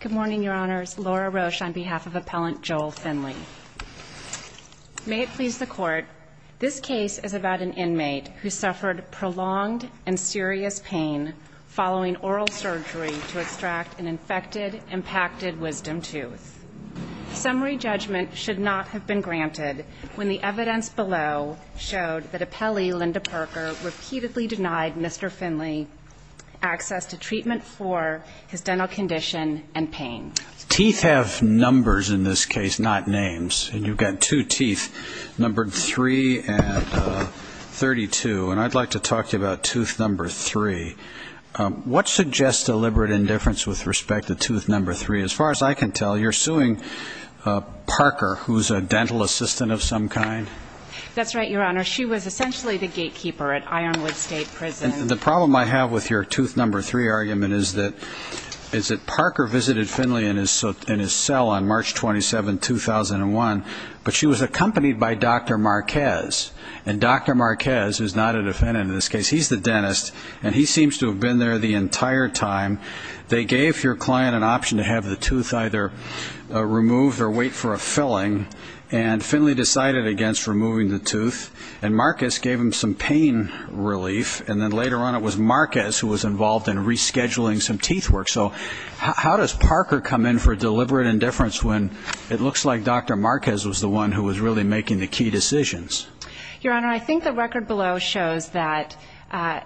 Good morning, Your Honors. Laura Roche on behalf of Appellant Joel Finley. May it please the Court, this case is about an inmate who suffered prolonged and serious pain following oral surgery to extract an infected impacted wisdom tooth. Summary judgment should not have been granted when the evidence below showed that Appellee Linda Parker repeatedly denied Mr. Finley access to treatment for his dental condition and pain. Teeth have numbers in this case, not names. And you've got two teeth, numbered 3 and 32. And I'd like to talk to you about tooth number 3. What suggests deliberate indifference with respect to tooth number 3? As far as I can tell, you're suing Parker, who's a dental assistant of some kind? That's right, Your Honor. She was essentially the gatekeeper at Ironwood State Prison. And the problem I have with your tooth number 3 argument is that Parker visited Finley in his cell on March 27, 2001, but she was accompanied by Dr. Marquez. And Dr. Marquez is not a defendant in this case. He's the dentist. And he seems to have been there the entire time. They gave your client an option to have the tooth either removed or wait for a filling. And Finley decided against removing the tooth. And Marquez gave him some pain relief. And then later on it was Marquez who was involved in rescheduling some teeth work. So how does Parker come in for deliberate indifference when it looks like Dr. Marquez was the one who was really making the key decisions? Your Honor, I think the record below shows that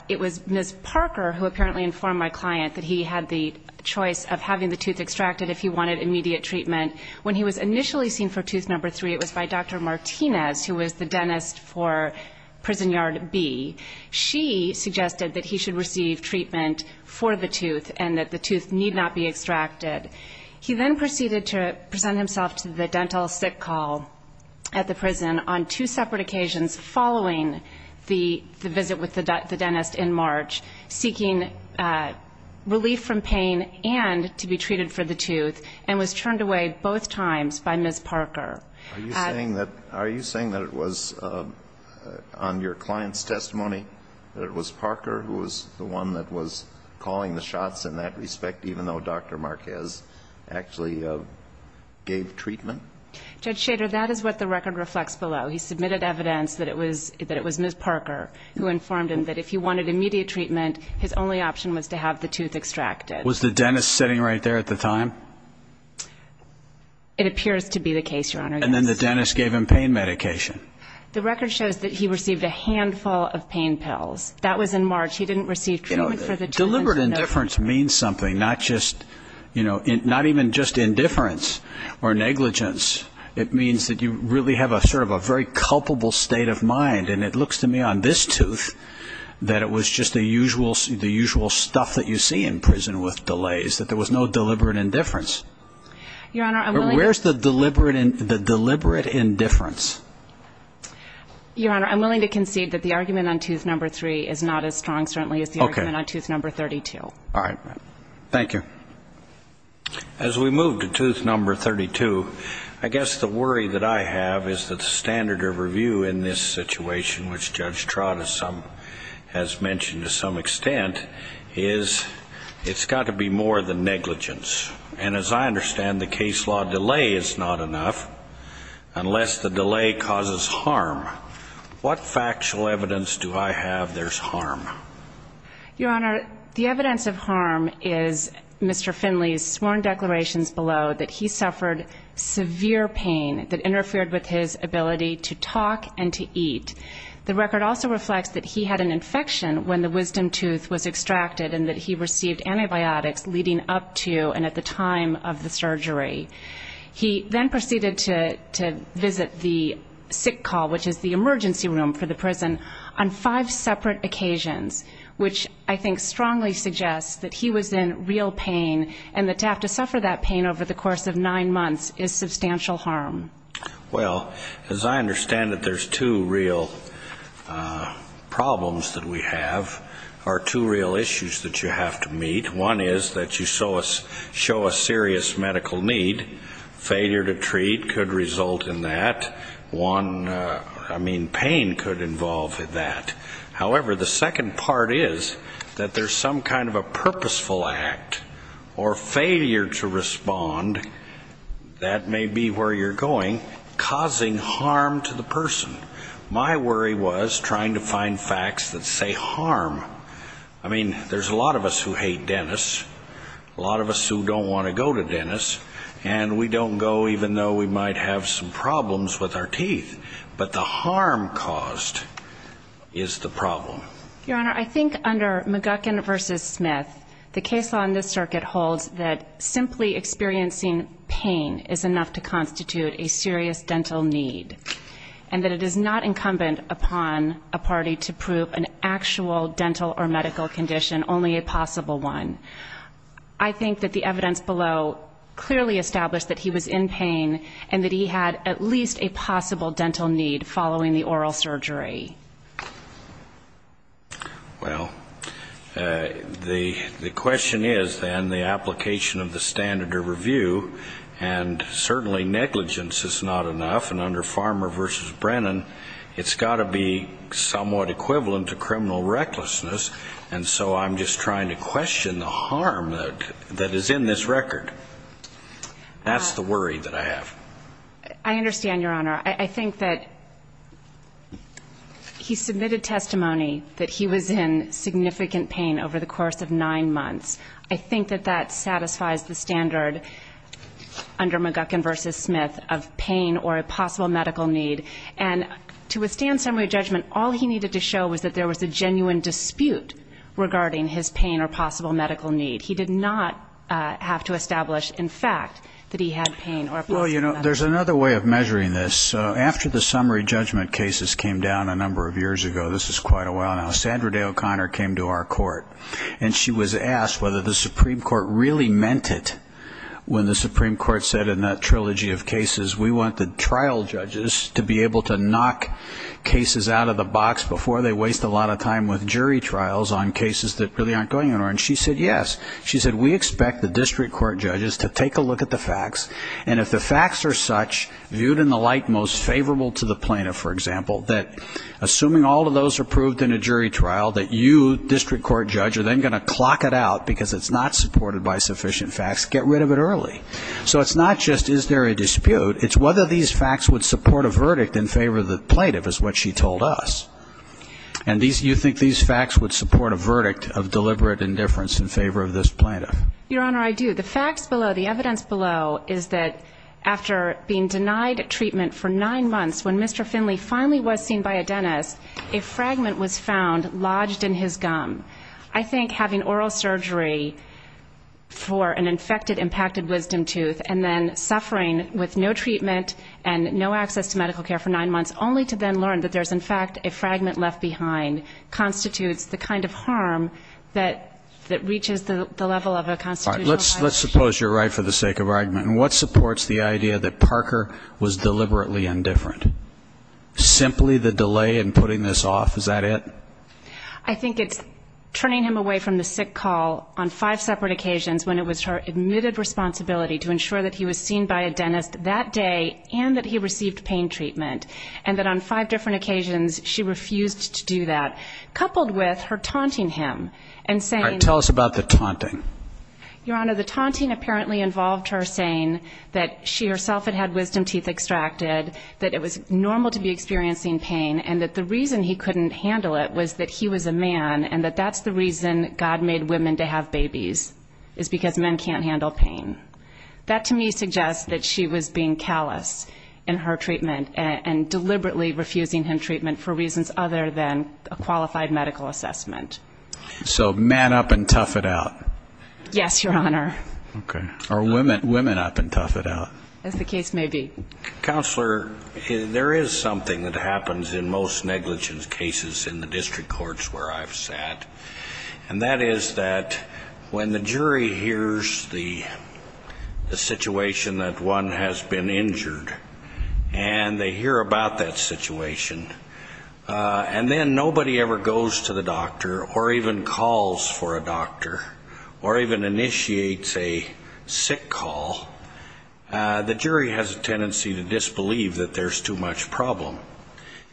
it was Ms. Parker who apparently informed my client that he had the choice of having the tooth extracted if he wanted immediate treatment. When he was initially seen for tooth number 3, it was by Dr. Martinez, who was the dentist for Prison Yard B. She suggested that he should receive treatment for the tooth and that the tooth need not be extracted. He then proceeded to present himself to the dental sick call at the prison on two separate occasions following the visit with the dentist in March, seeking relief from pain and to be treated for the tooth, and was turned away both times by Ms. Parker. Are you saying that it was on your client's testimony that it was Parker who was the one that was calling the shots in that respect, even though Dr. Marquez actually gave treatment? Judge Schader, that is what the record reflects below. He submitted evidence that it was Ms. Parker who informed him that if he wanted immediate treatment, his only option was to have the tooth extracted. Was the dentist sitting right there at the time? It appears to be the case, Your Honor, yes. And then the dentist gave him pain medication? The record shows that he received a handful of pain pills. That was in March. He didn't receive treatment for the tooth until March. Deliberate indifference means something, not even just indifference or negligence. It means that you really have sort of a very culpable state of mind. And it looks to me on this tooth that it was just the usual stuff that you see in prison with delays, that there was no deliberate indifference. Where's the deliberate indifference? Your Honor, I'm willing to concede that the argument on tooth number three is not as strong, certainly, as the argument on tooth number 32. All right. Thank you. As we move to tooth number 32, I guess the worry that I have is that the standard of review in this situation, which Judge Trott has mentioned to some extent, is it's got to be more than negligence. And as I understand, the case law delay is not enough unless the delay causes harm. What factual evidence do I have there's harm? Your Honor, the evidence of harm is Mr. Finley's sworn declarations below that he suffered severe pain that interfered with his ability to talk and to eat. The record also reflects that he had an infection when the wisdom tooth was extracted and that he received antibiotics leading up to and at the time of the surgery. He then proceeded to visit the sick call, which is the emergency room for the prison, on five separate occasions, which I think strongly suggests that he was in real pain and that to have to suffer that pain over the course of nine months is substantial harm. Well, as I understand it, there's two real problems that we have or two real issues that you have to meet. One is that you show a serious medical need. Failure to treat could result in that. One, I mean, pain could involve that. However, the second part is that there's some kind of a purposeful act or failure to respond, that may be where you're going, causing harm to the person. My worry was trying to find facts that say harm. I mean, there's a lot of us who hate Dennis, a lot of us who don't want to go to Dennis, and we don't go even though we might have some problems with our teeth. But the harm caused is the problem. Your Honor, I think under McGuckin v. Smith, the case law in this circuit holds that simply experiencing pain is enough to constitute a serious dental need and that it is not incumbent upon a party to prove an actual dental or medical condition, only a possible one. I think that the evidence below clearly established that he was in pain and that he had at least a possible dental need following the oral surgery. Well, the question is, then, the application of the standard of review, and certainly negligence is not enough, and under Farmer v. Brennan, it's got to be somewhat equivalent to criminal recklessness, and so I'm just trying to question the harm that is in this record. That's the worry that I have. I understand, Your Honor. I think that he submitted testimony that he was in significant pain over the course of nine months. I think that that satisfies the standard under McGuckin v. Smith of pain or a possible medical need, and to withstand summary judgment, all he needed to show was that there was a genuine dispute regarding his pain or possible medical need. He did not have to establish, in fact, that he had pain or a possible medical need. Well, you know, there's another way of measuring this. After the summary judgment cases came down a number of years ago, this is quite a while now, Sandra Day O'Connor came to our court, and she was asked whether the Supreme Court really meant it when the Supreme Court said in that trilogy of cases, we want the trial judges to be able to knock cases out of the box before they waste a lot of time with jury trials on cases that really aren't going anywhere. And she said, yes. She said, we expect the district court judges to take a look at the facts, and if the facts are such, viewed in the light most favorable to the plaintiff, for example, that assuming all of those are proved in a jury trial, that you, district court judge, are then going to clock it out because it's not supported by sufficient facts, get rid of it early. So it's not just is there a dispute. It's whether these facts would support a verdict in favor of the plaintiff is what she told us. And you think these facts would support a verdict of deliberate indifference in favor of this plaintiff. Your Honor, I do. The facts below, the evidence below is that after being denied treatment for nine months, when Mr. Finley finally was seen by a dentist, a fragment was found lodged in his gum. I think having oral surgery for an infected impacted wisdom tooth and then suffering with no treatment and no access to medical care for nine months, only to then learn that there's, in fact, a fragment left behind, constitutes the kind of harm that reaches the level of a constitutional violation. Let's suppose you're right for the sake of argument. And what supports the idea that Parker was deliberately indifferent? Simply the delay in putting this off, is that it? I think it's turning him away from the sick call on five separate occasions when it was her admitted responsibility to ensure that he was seen by a dentist that day and that he received pain treatment, and that on five different occasions she refused to do that, coupled with her taunting him and saying? Tell us about the taunting. Your Honor, the taunting apparently involved her saying that she herself had had wisdom teeth extracted, that it was normal to be experiencing pain, and that the reason he couldn't handle it was that he was a man and that that's the reason God made women to have babies, is because men can't handle pain. That to me suggests that she was being callous in her treatment and deliberately refusing him treatment for reasons other than a qualified medical assessment. So men up and tough it out. Yes, Your Honor. Or women up and tough it out. As the case may be. Counselor, there is something that happens in most negligence cases in the district courts where I've sat, and that is that when the jury hears the situation that one has been injured and they hear about that situation, and then nobody ever goes to the doctor or even calls for a doctor or even initiates a sick call, the jury has a tendency to disbelieve that there's too much problem.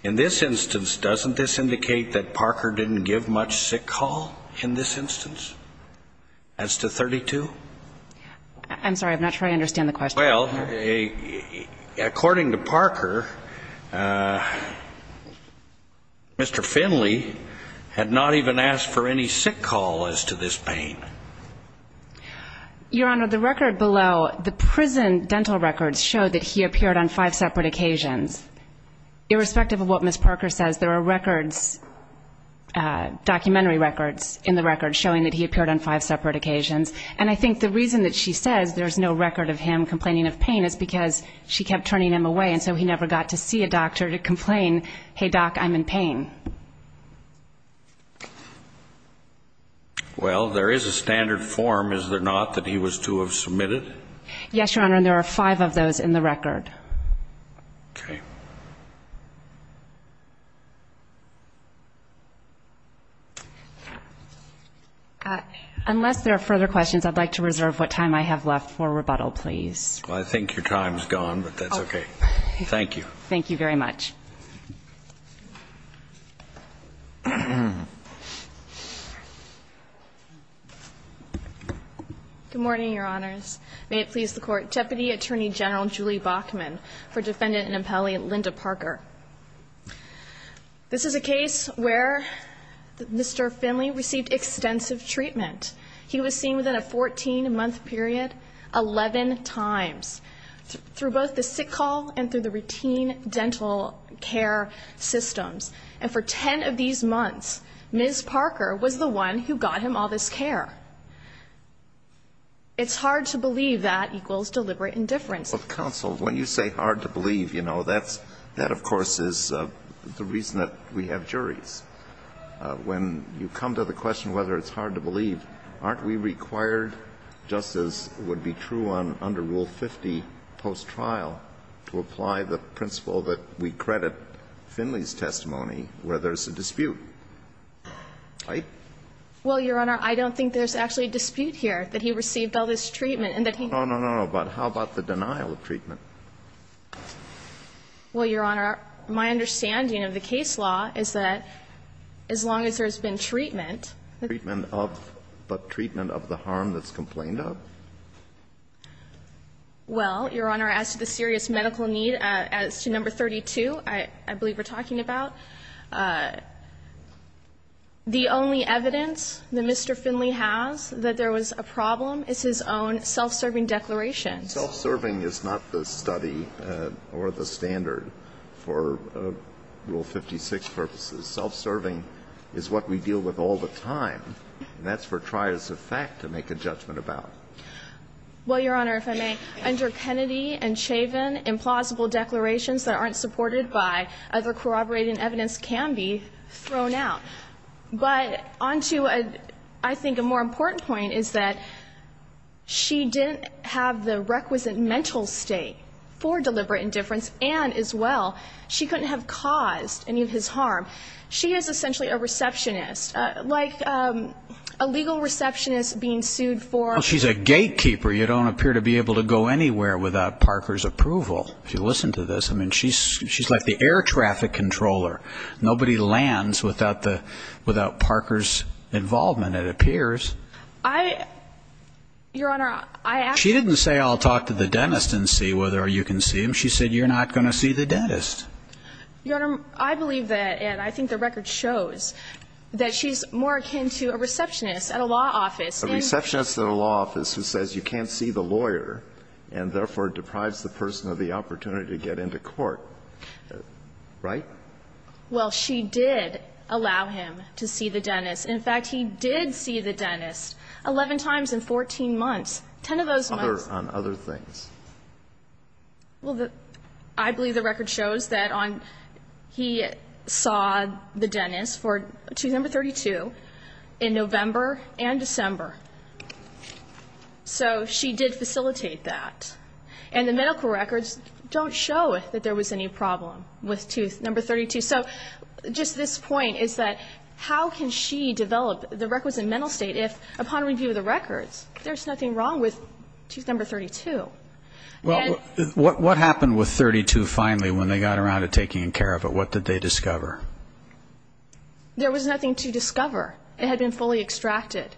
In this instance, doesn't this indicate that Parker didn't give much sick call in this instance as to 32? I'm sorry, I'm not sure I understand the question. Well, according to Parker, Mr. Finley had not even asked for any sick call as to this pain. Your Honor, the record below, the prison dental records show that he appeared on five separate occasions. Irrespective of what Ms. Parker says, there are records, documentary records in the record, showing that he appeared on five separate occasions. And I think the reason that she says there's no record of him complaining of pain is because she kept turning him away, and so he never got to see a doctor to complain, hey, doc, I'm in pain. Well, there is a standard form, is there not, that he was to have submitted? Yes, Your Honor, and there are five of those in the record. Okay. Unless there are further questions, I'd like to reserve what time I have left for rebuttal, please. Well, I think your time's gone, but that's okay. Thank you. Thank you very much. Good morning, Your Honors. May it please the Court. Deputy Attorney General Julie Bachman for Defendant and Appellee Linda Parker. This is a case where Mr. Finley received extensive treatment. He was seen within a 14-month period 11 times, through both the sick hall and through the routine dental care systems. And for 10 of these months, Ms. Parker was the one who got him all this care. It's hard to believe that equals deliberate indifference. Counsel, when you say hard to believe, you know, that, of course, is the reason that we have juries. When you come to the question whether it's hard to believe, aren't we required, just as would be true under Rule 50 post-trial, to apply the principle that we credit Finley's testimony where there's a dispute? Right? Well, Your Honor, I don't think there's actually a dispute here that he received all this treatment and that he. No, no, no. But how about the denial of treatment? Well, Your Honor, my understanding of the case law is that as long as there's been treatment. Treatment of? But treatment of the harm that's complained of? Well, Your Honor, as to the serious medical need, as to number 32, I believe we're talking about, the only evidence that Mr. Finley has that there was a problem is his own self-serving declaration. Self-serving is not the study or the standard for Rule 56 purposes. Self-serving is what we deal with all the time, and that's for trios of fact to make a judgment about. Well, Your Honor, if I may, under Kennedy and Chavin, implausible declarations that aren't supported by other corroborating evidence can be thrown out. But on to, I think, a more important point is that she didn't have the requisite mental state for deliberate indifference, and as well, she couldn't have caused any of his harm. She is essentially a receptionist, like a legal receptionist being sued for She's a gatekeeper. You don't appear to be able to go anywhere without Parker's approval. If you listen to this, I mean, she's like the air traffic controller. Nobody lands without Parker's involvement, it appears. I, Your Honor, I actually She didn't say, I'll talk to the dentist and see whether you can see him. She said, you're not going to see the dentist. Your Honor, I believe that, and I think the record shows that she's more akin to a receptionist at a law office. A receptionist at a law office who says you can't see the lawyer and therefore deprives the person of the opportunity to get into court, right? Well, she did allow him to see the dentist. In fact, he did see the dentist 11 times in 14 months. Ten of those months On other things. Well, I believe the record shows that he saw the dentist for tooth number 32 in November and December. So she did facilitate that. And the medical records don't show that there was any problem with tooth number 32. So just this point is that how can she develop the records in mental state if, upon review of the records, there's nothing wrong with tooth number 32? Well, what happened with 32 finally when they got around to taking care of it? What did they discover? There was nothing to discover. It had been fully extracted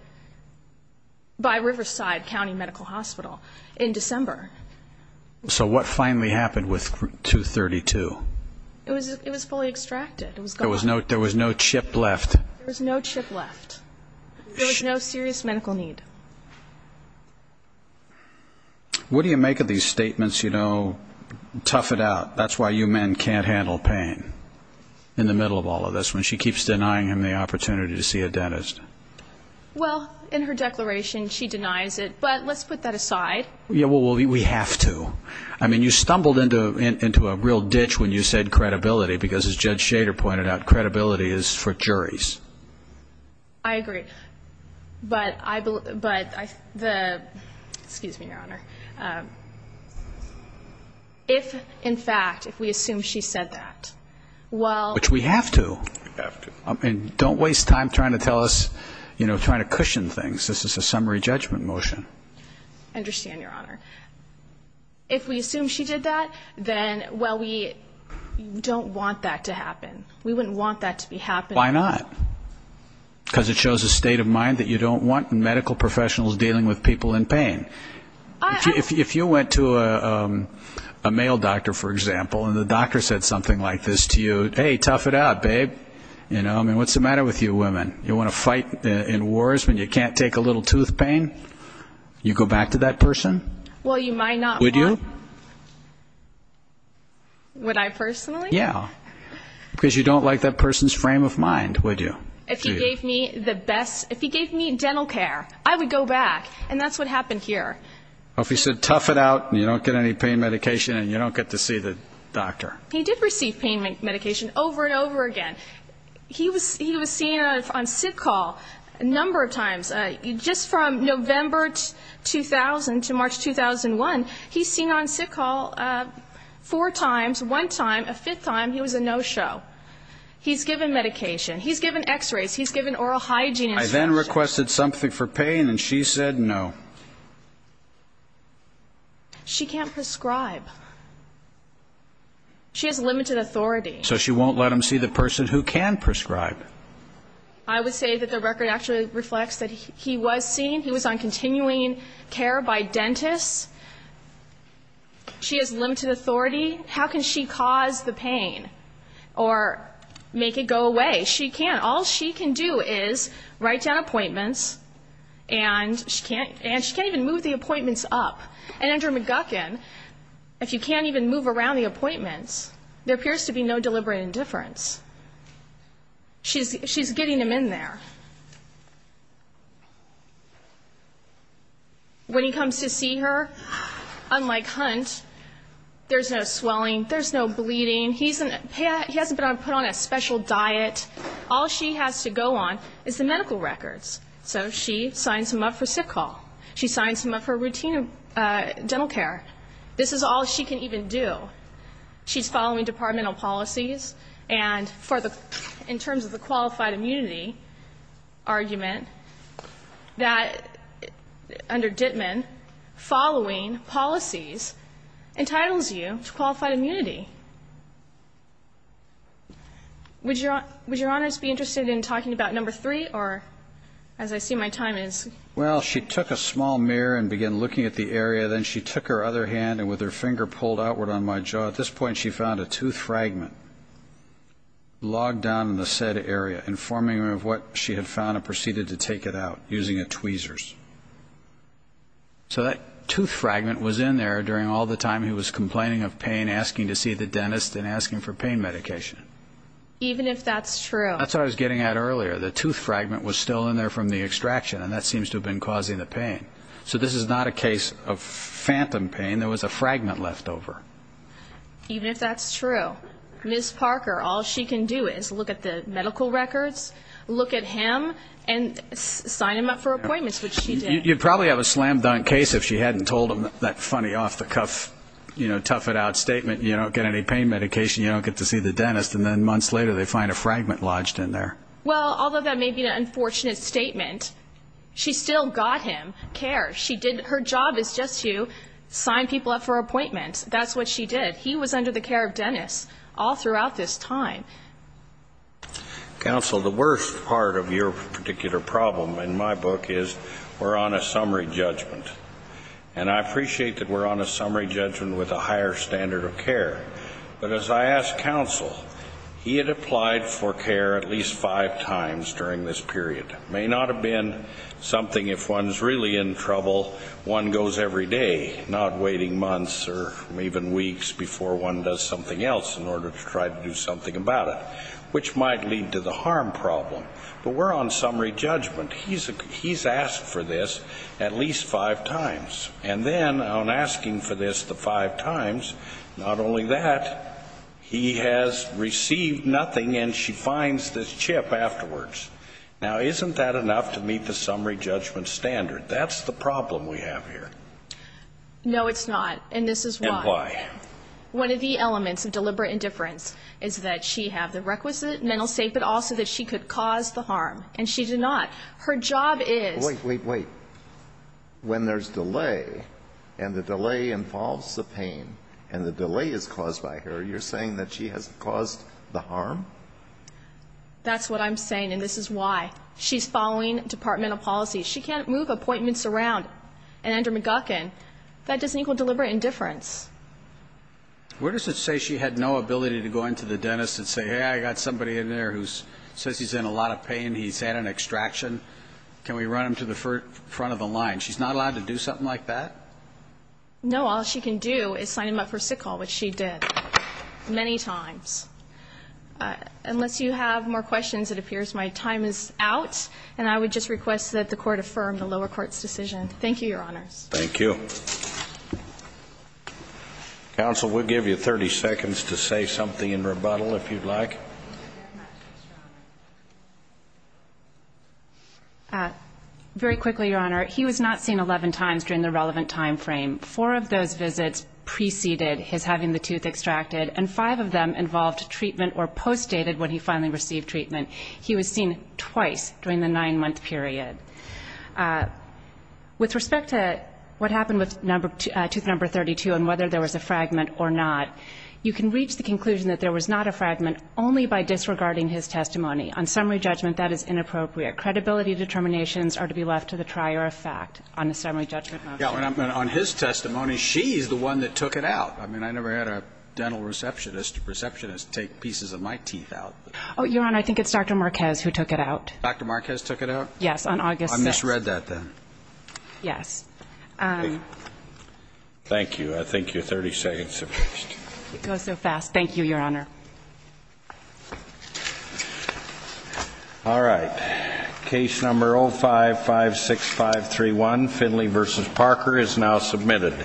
by Riverside County Medical Hospital in December. So what finally happened with tooth 32? It was fully extracted. There was no chip left. There was no chip left. There was no serious medical need. What do you make of these statements, you know, tough it out, that's why you men can't handle pain, in the middle of all of this, when she keeps denying him the opportunity to see a dentist? Well, in her declaration she denies it, but let's put that aside. Yeah, well, we have to. I mean, you stumbled into a real ditch when you said credibility, because as Judge Shader pointed out, credibility is for juries. I agree. But the ‑‑ excuse me, Your Honor. If, in fact, if we assume she said that, well ‑‑ Which we have to. We have to. And don't waste time trying to tell us, you know, trying to cushion things. This is a summary judgment motion. I understand, Your Honor. If we assume she did that, then, well, we don't want that to happen. We wouldn't want that to be happening. Why not? Because it shows a state of mind that you don't want medical professionals dealing with people in pain. If you went to a male doctor, for example, and the doctor said something like this to you, hey, tough it out, babe. You know, I mean, what's the matter with you women? You want to fight in wars when you can't take a little tooth pain? You go back to that person? Well, you might not want ‑‑ Would you? Would I personally? Yeah. Because you don't like that person's frame of mind, would you? If he gave me the best ‑‑ if he gave me dental care, I would go back. And that's what happened here. Well, if he said tough it out and you don't get any pain medication and you don't get to see the doctor. He did receive pain medication over and over again. He was seen on sick call a number of times. Just from November 2000 to March 2001, he's seen on sick call four times. One time, a fifth time, he was a no show. He's given medication. He's given x-rays. He's given oral hygiene instructions. I then requested something for pain and she said no. She can't prescribe. She has limited authority. So she won't let him see the person who can prescribe. I would say that the record actually reflects that he was seen. He was on continuing care by dentists. She has limited authority. How can she cause the pain or make it go away? She can't. All she can do is write down appointments and she can't even move the appointments up. And under McGuckin, if you can't even move around the appointments, there appears to be no deliberate indifference. She's getting him in there. When he comes to see her, unlike Hunt, there's no swelling. There's no bleeding. He hasn't been put on a special diet. All she has to go on is the medical records. So she signs him up for sick call. She signs him up for routine dental care. This is all she can even do. She's following departmental policies. And in terms of the qualified immunity argument, that under Dittman, following policies entitles you to qualified immunity. Would Your Honors be interested in talking about number three or, as I see my time is? Well, she took a small mirror and began looking at the area. Then she took her other hand and with her finger pulled outward on my jaw. At this point, she found a tooth fragment logged down in the said area, informing her of what she had found and proceeded to take it out using a tweezers. So that tooth fragment was in there during all the time he was complaining of pain, asking to see the dentist and asking for pain medication. Even if that's true. That's what I was getting at earlier. The tooth fragment was still in there from the extraction, and that seems to have been causing the pain. So this is not a case of phantom pain. There was a fragment left over. Even if that's true. Ms. Parker, all she can do is look at the medical records, look at him, and sign him up for appointments, which she did. You'd probably have a slam-dunk case if she hadn't told him that funny off-the-cuff, you know, tough-it-out statement, you don't get any pain medication, you don't get to see the dentist, and then months later they find a fragment lodged in there. Well, although that may be an unfortunate statement, she still got him care. Her job is just to sign people up for appointments. That's what she did. He was under the care of dentists all throughout this time. Counsel, the worst part of your particular problem in my book is we're on a summary judgment. And I appreciate that we're on a summary judgment with a higher standard of care. But as I asked counsel, he had applied for care at least five times during this period. It may not have been something if one's really in trouble, one goes every day, not waiting months or even weeks before one does something else in order to try to do something about it, which might lead to the harm problem. But we're on summary judgment. He's asked for this at least five times. And then on asking for this the five times, not only that, he has received nothing and she finds this chip afterwards. Now, isn't that enough to meet the summary judgment standard? That's the problem we have here. No, it's not. And this is why. And why. One of the elements of deliberate indifference is that she had the requisite mental state, but also that she could cause the harm. And she did not. Her job is. Wait, wait, wait. When there's delay and the delay involves the pain and the delay is caused by her, you're saying that she has caused the harm? That's what I'm saying. And this is why. She's following departmental policy. She can't move appointments around. And under McGuckin, that doesn't equal deliberate indifference. Where does it say she had no ability to go into the dentist and say, hey, I got somebody in there who says he's in a lot of pain, he's had an extraction. Can we run him to the front of the line? She's not allowed to do something like that? No. All she can do is sign him up for sickle, which she did many times. Unless you have more questions, it appears my time is out. And I would just request that the court affirm the lower court's decision. Thank you, Your Honors. Thank you. Counsel, we'll give you 30 seconds to say something in rebuttal if you'd like. Very quickly, Your Honor. He was not seen 11 times during the relevant time frame. Four of those visits preceded his having the tooth extracted, and five of them involved treatment or post dated when he finally received treatment. He was seen twice during the nine-month period. With respect to what happened with tooth number 32 and whether there was a fragment or not, you can reach the conclusion that there was not a fragment only by disregarding his testimony. On summary judgment, that is inappropriate. Credibility determinations are to be left to the trier of fact on a summary judgment motion. On his testimony, she's the one that took it out. I mean, I never had a dental receptionist take pieces of my teeth out. Oh, Your Honor, I think it's Dr. Marquez who took it out. Dr. Marquez took it out? Yes, on August 6th. I misread that then. Yes. Thank you. I thank you. 30 seconds have passed. It goes so fast. Thank you, Your Honor. All right. Case number 0556531, Finley v. Parker, is now submitted.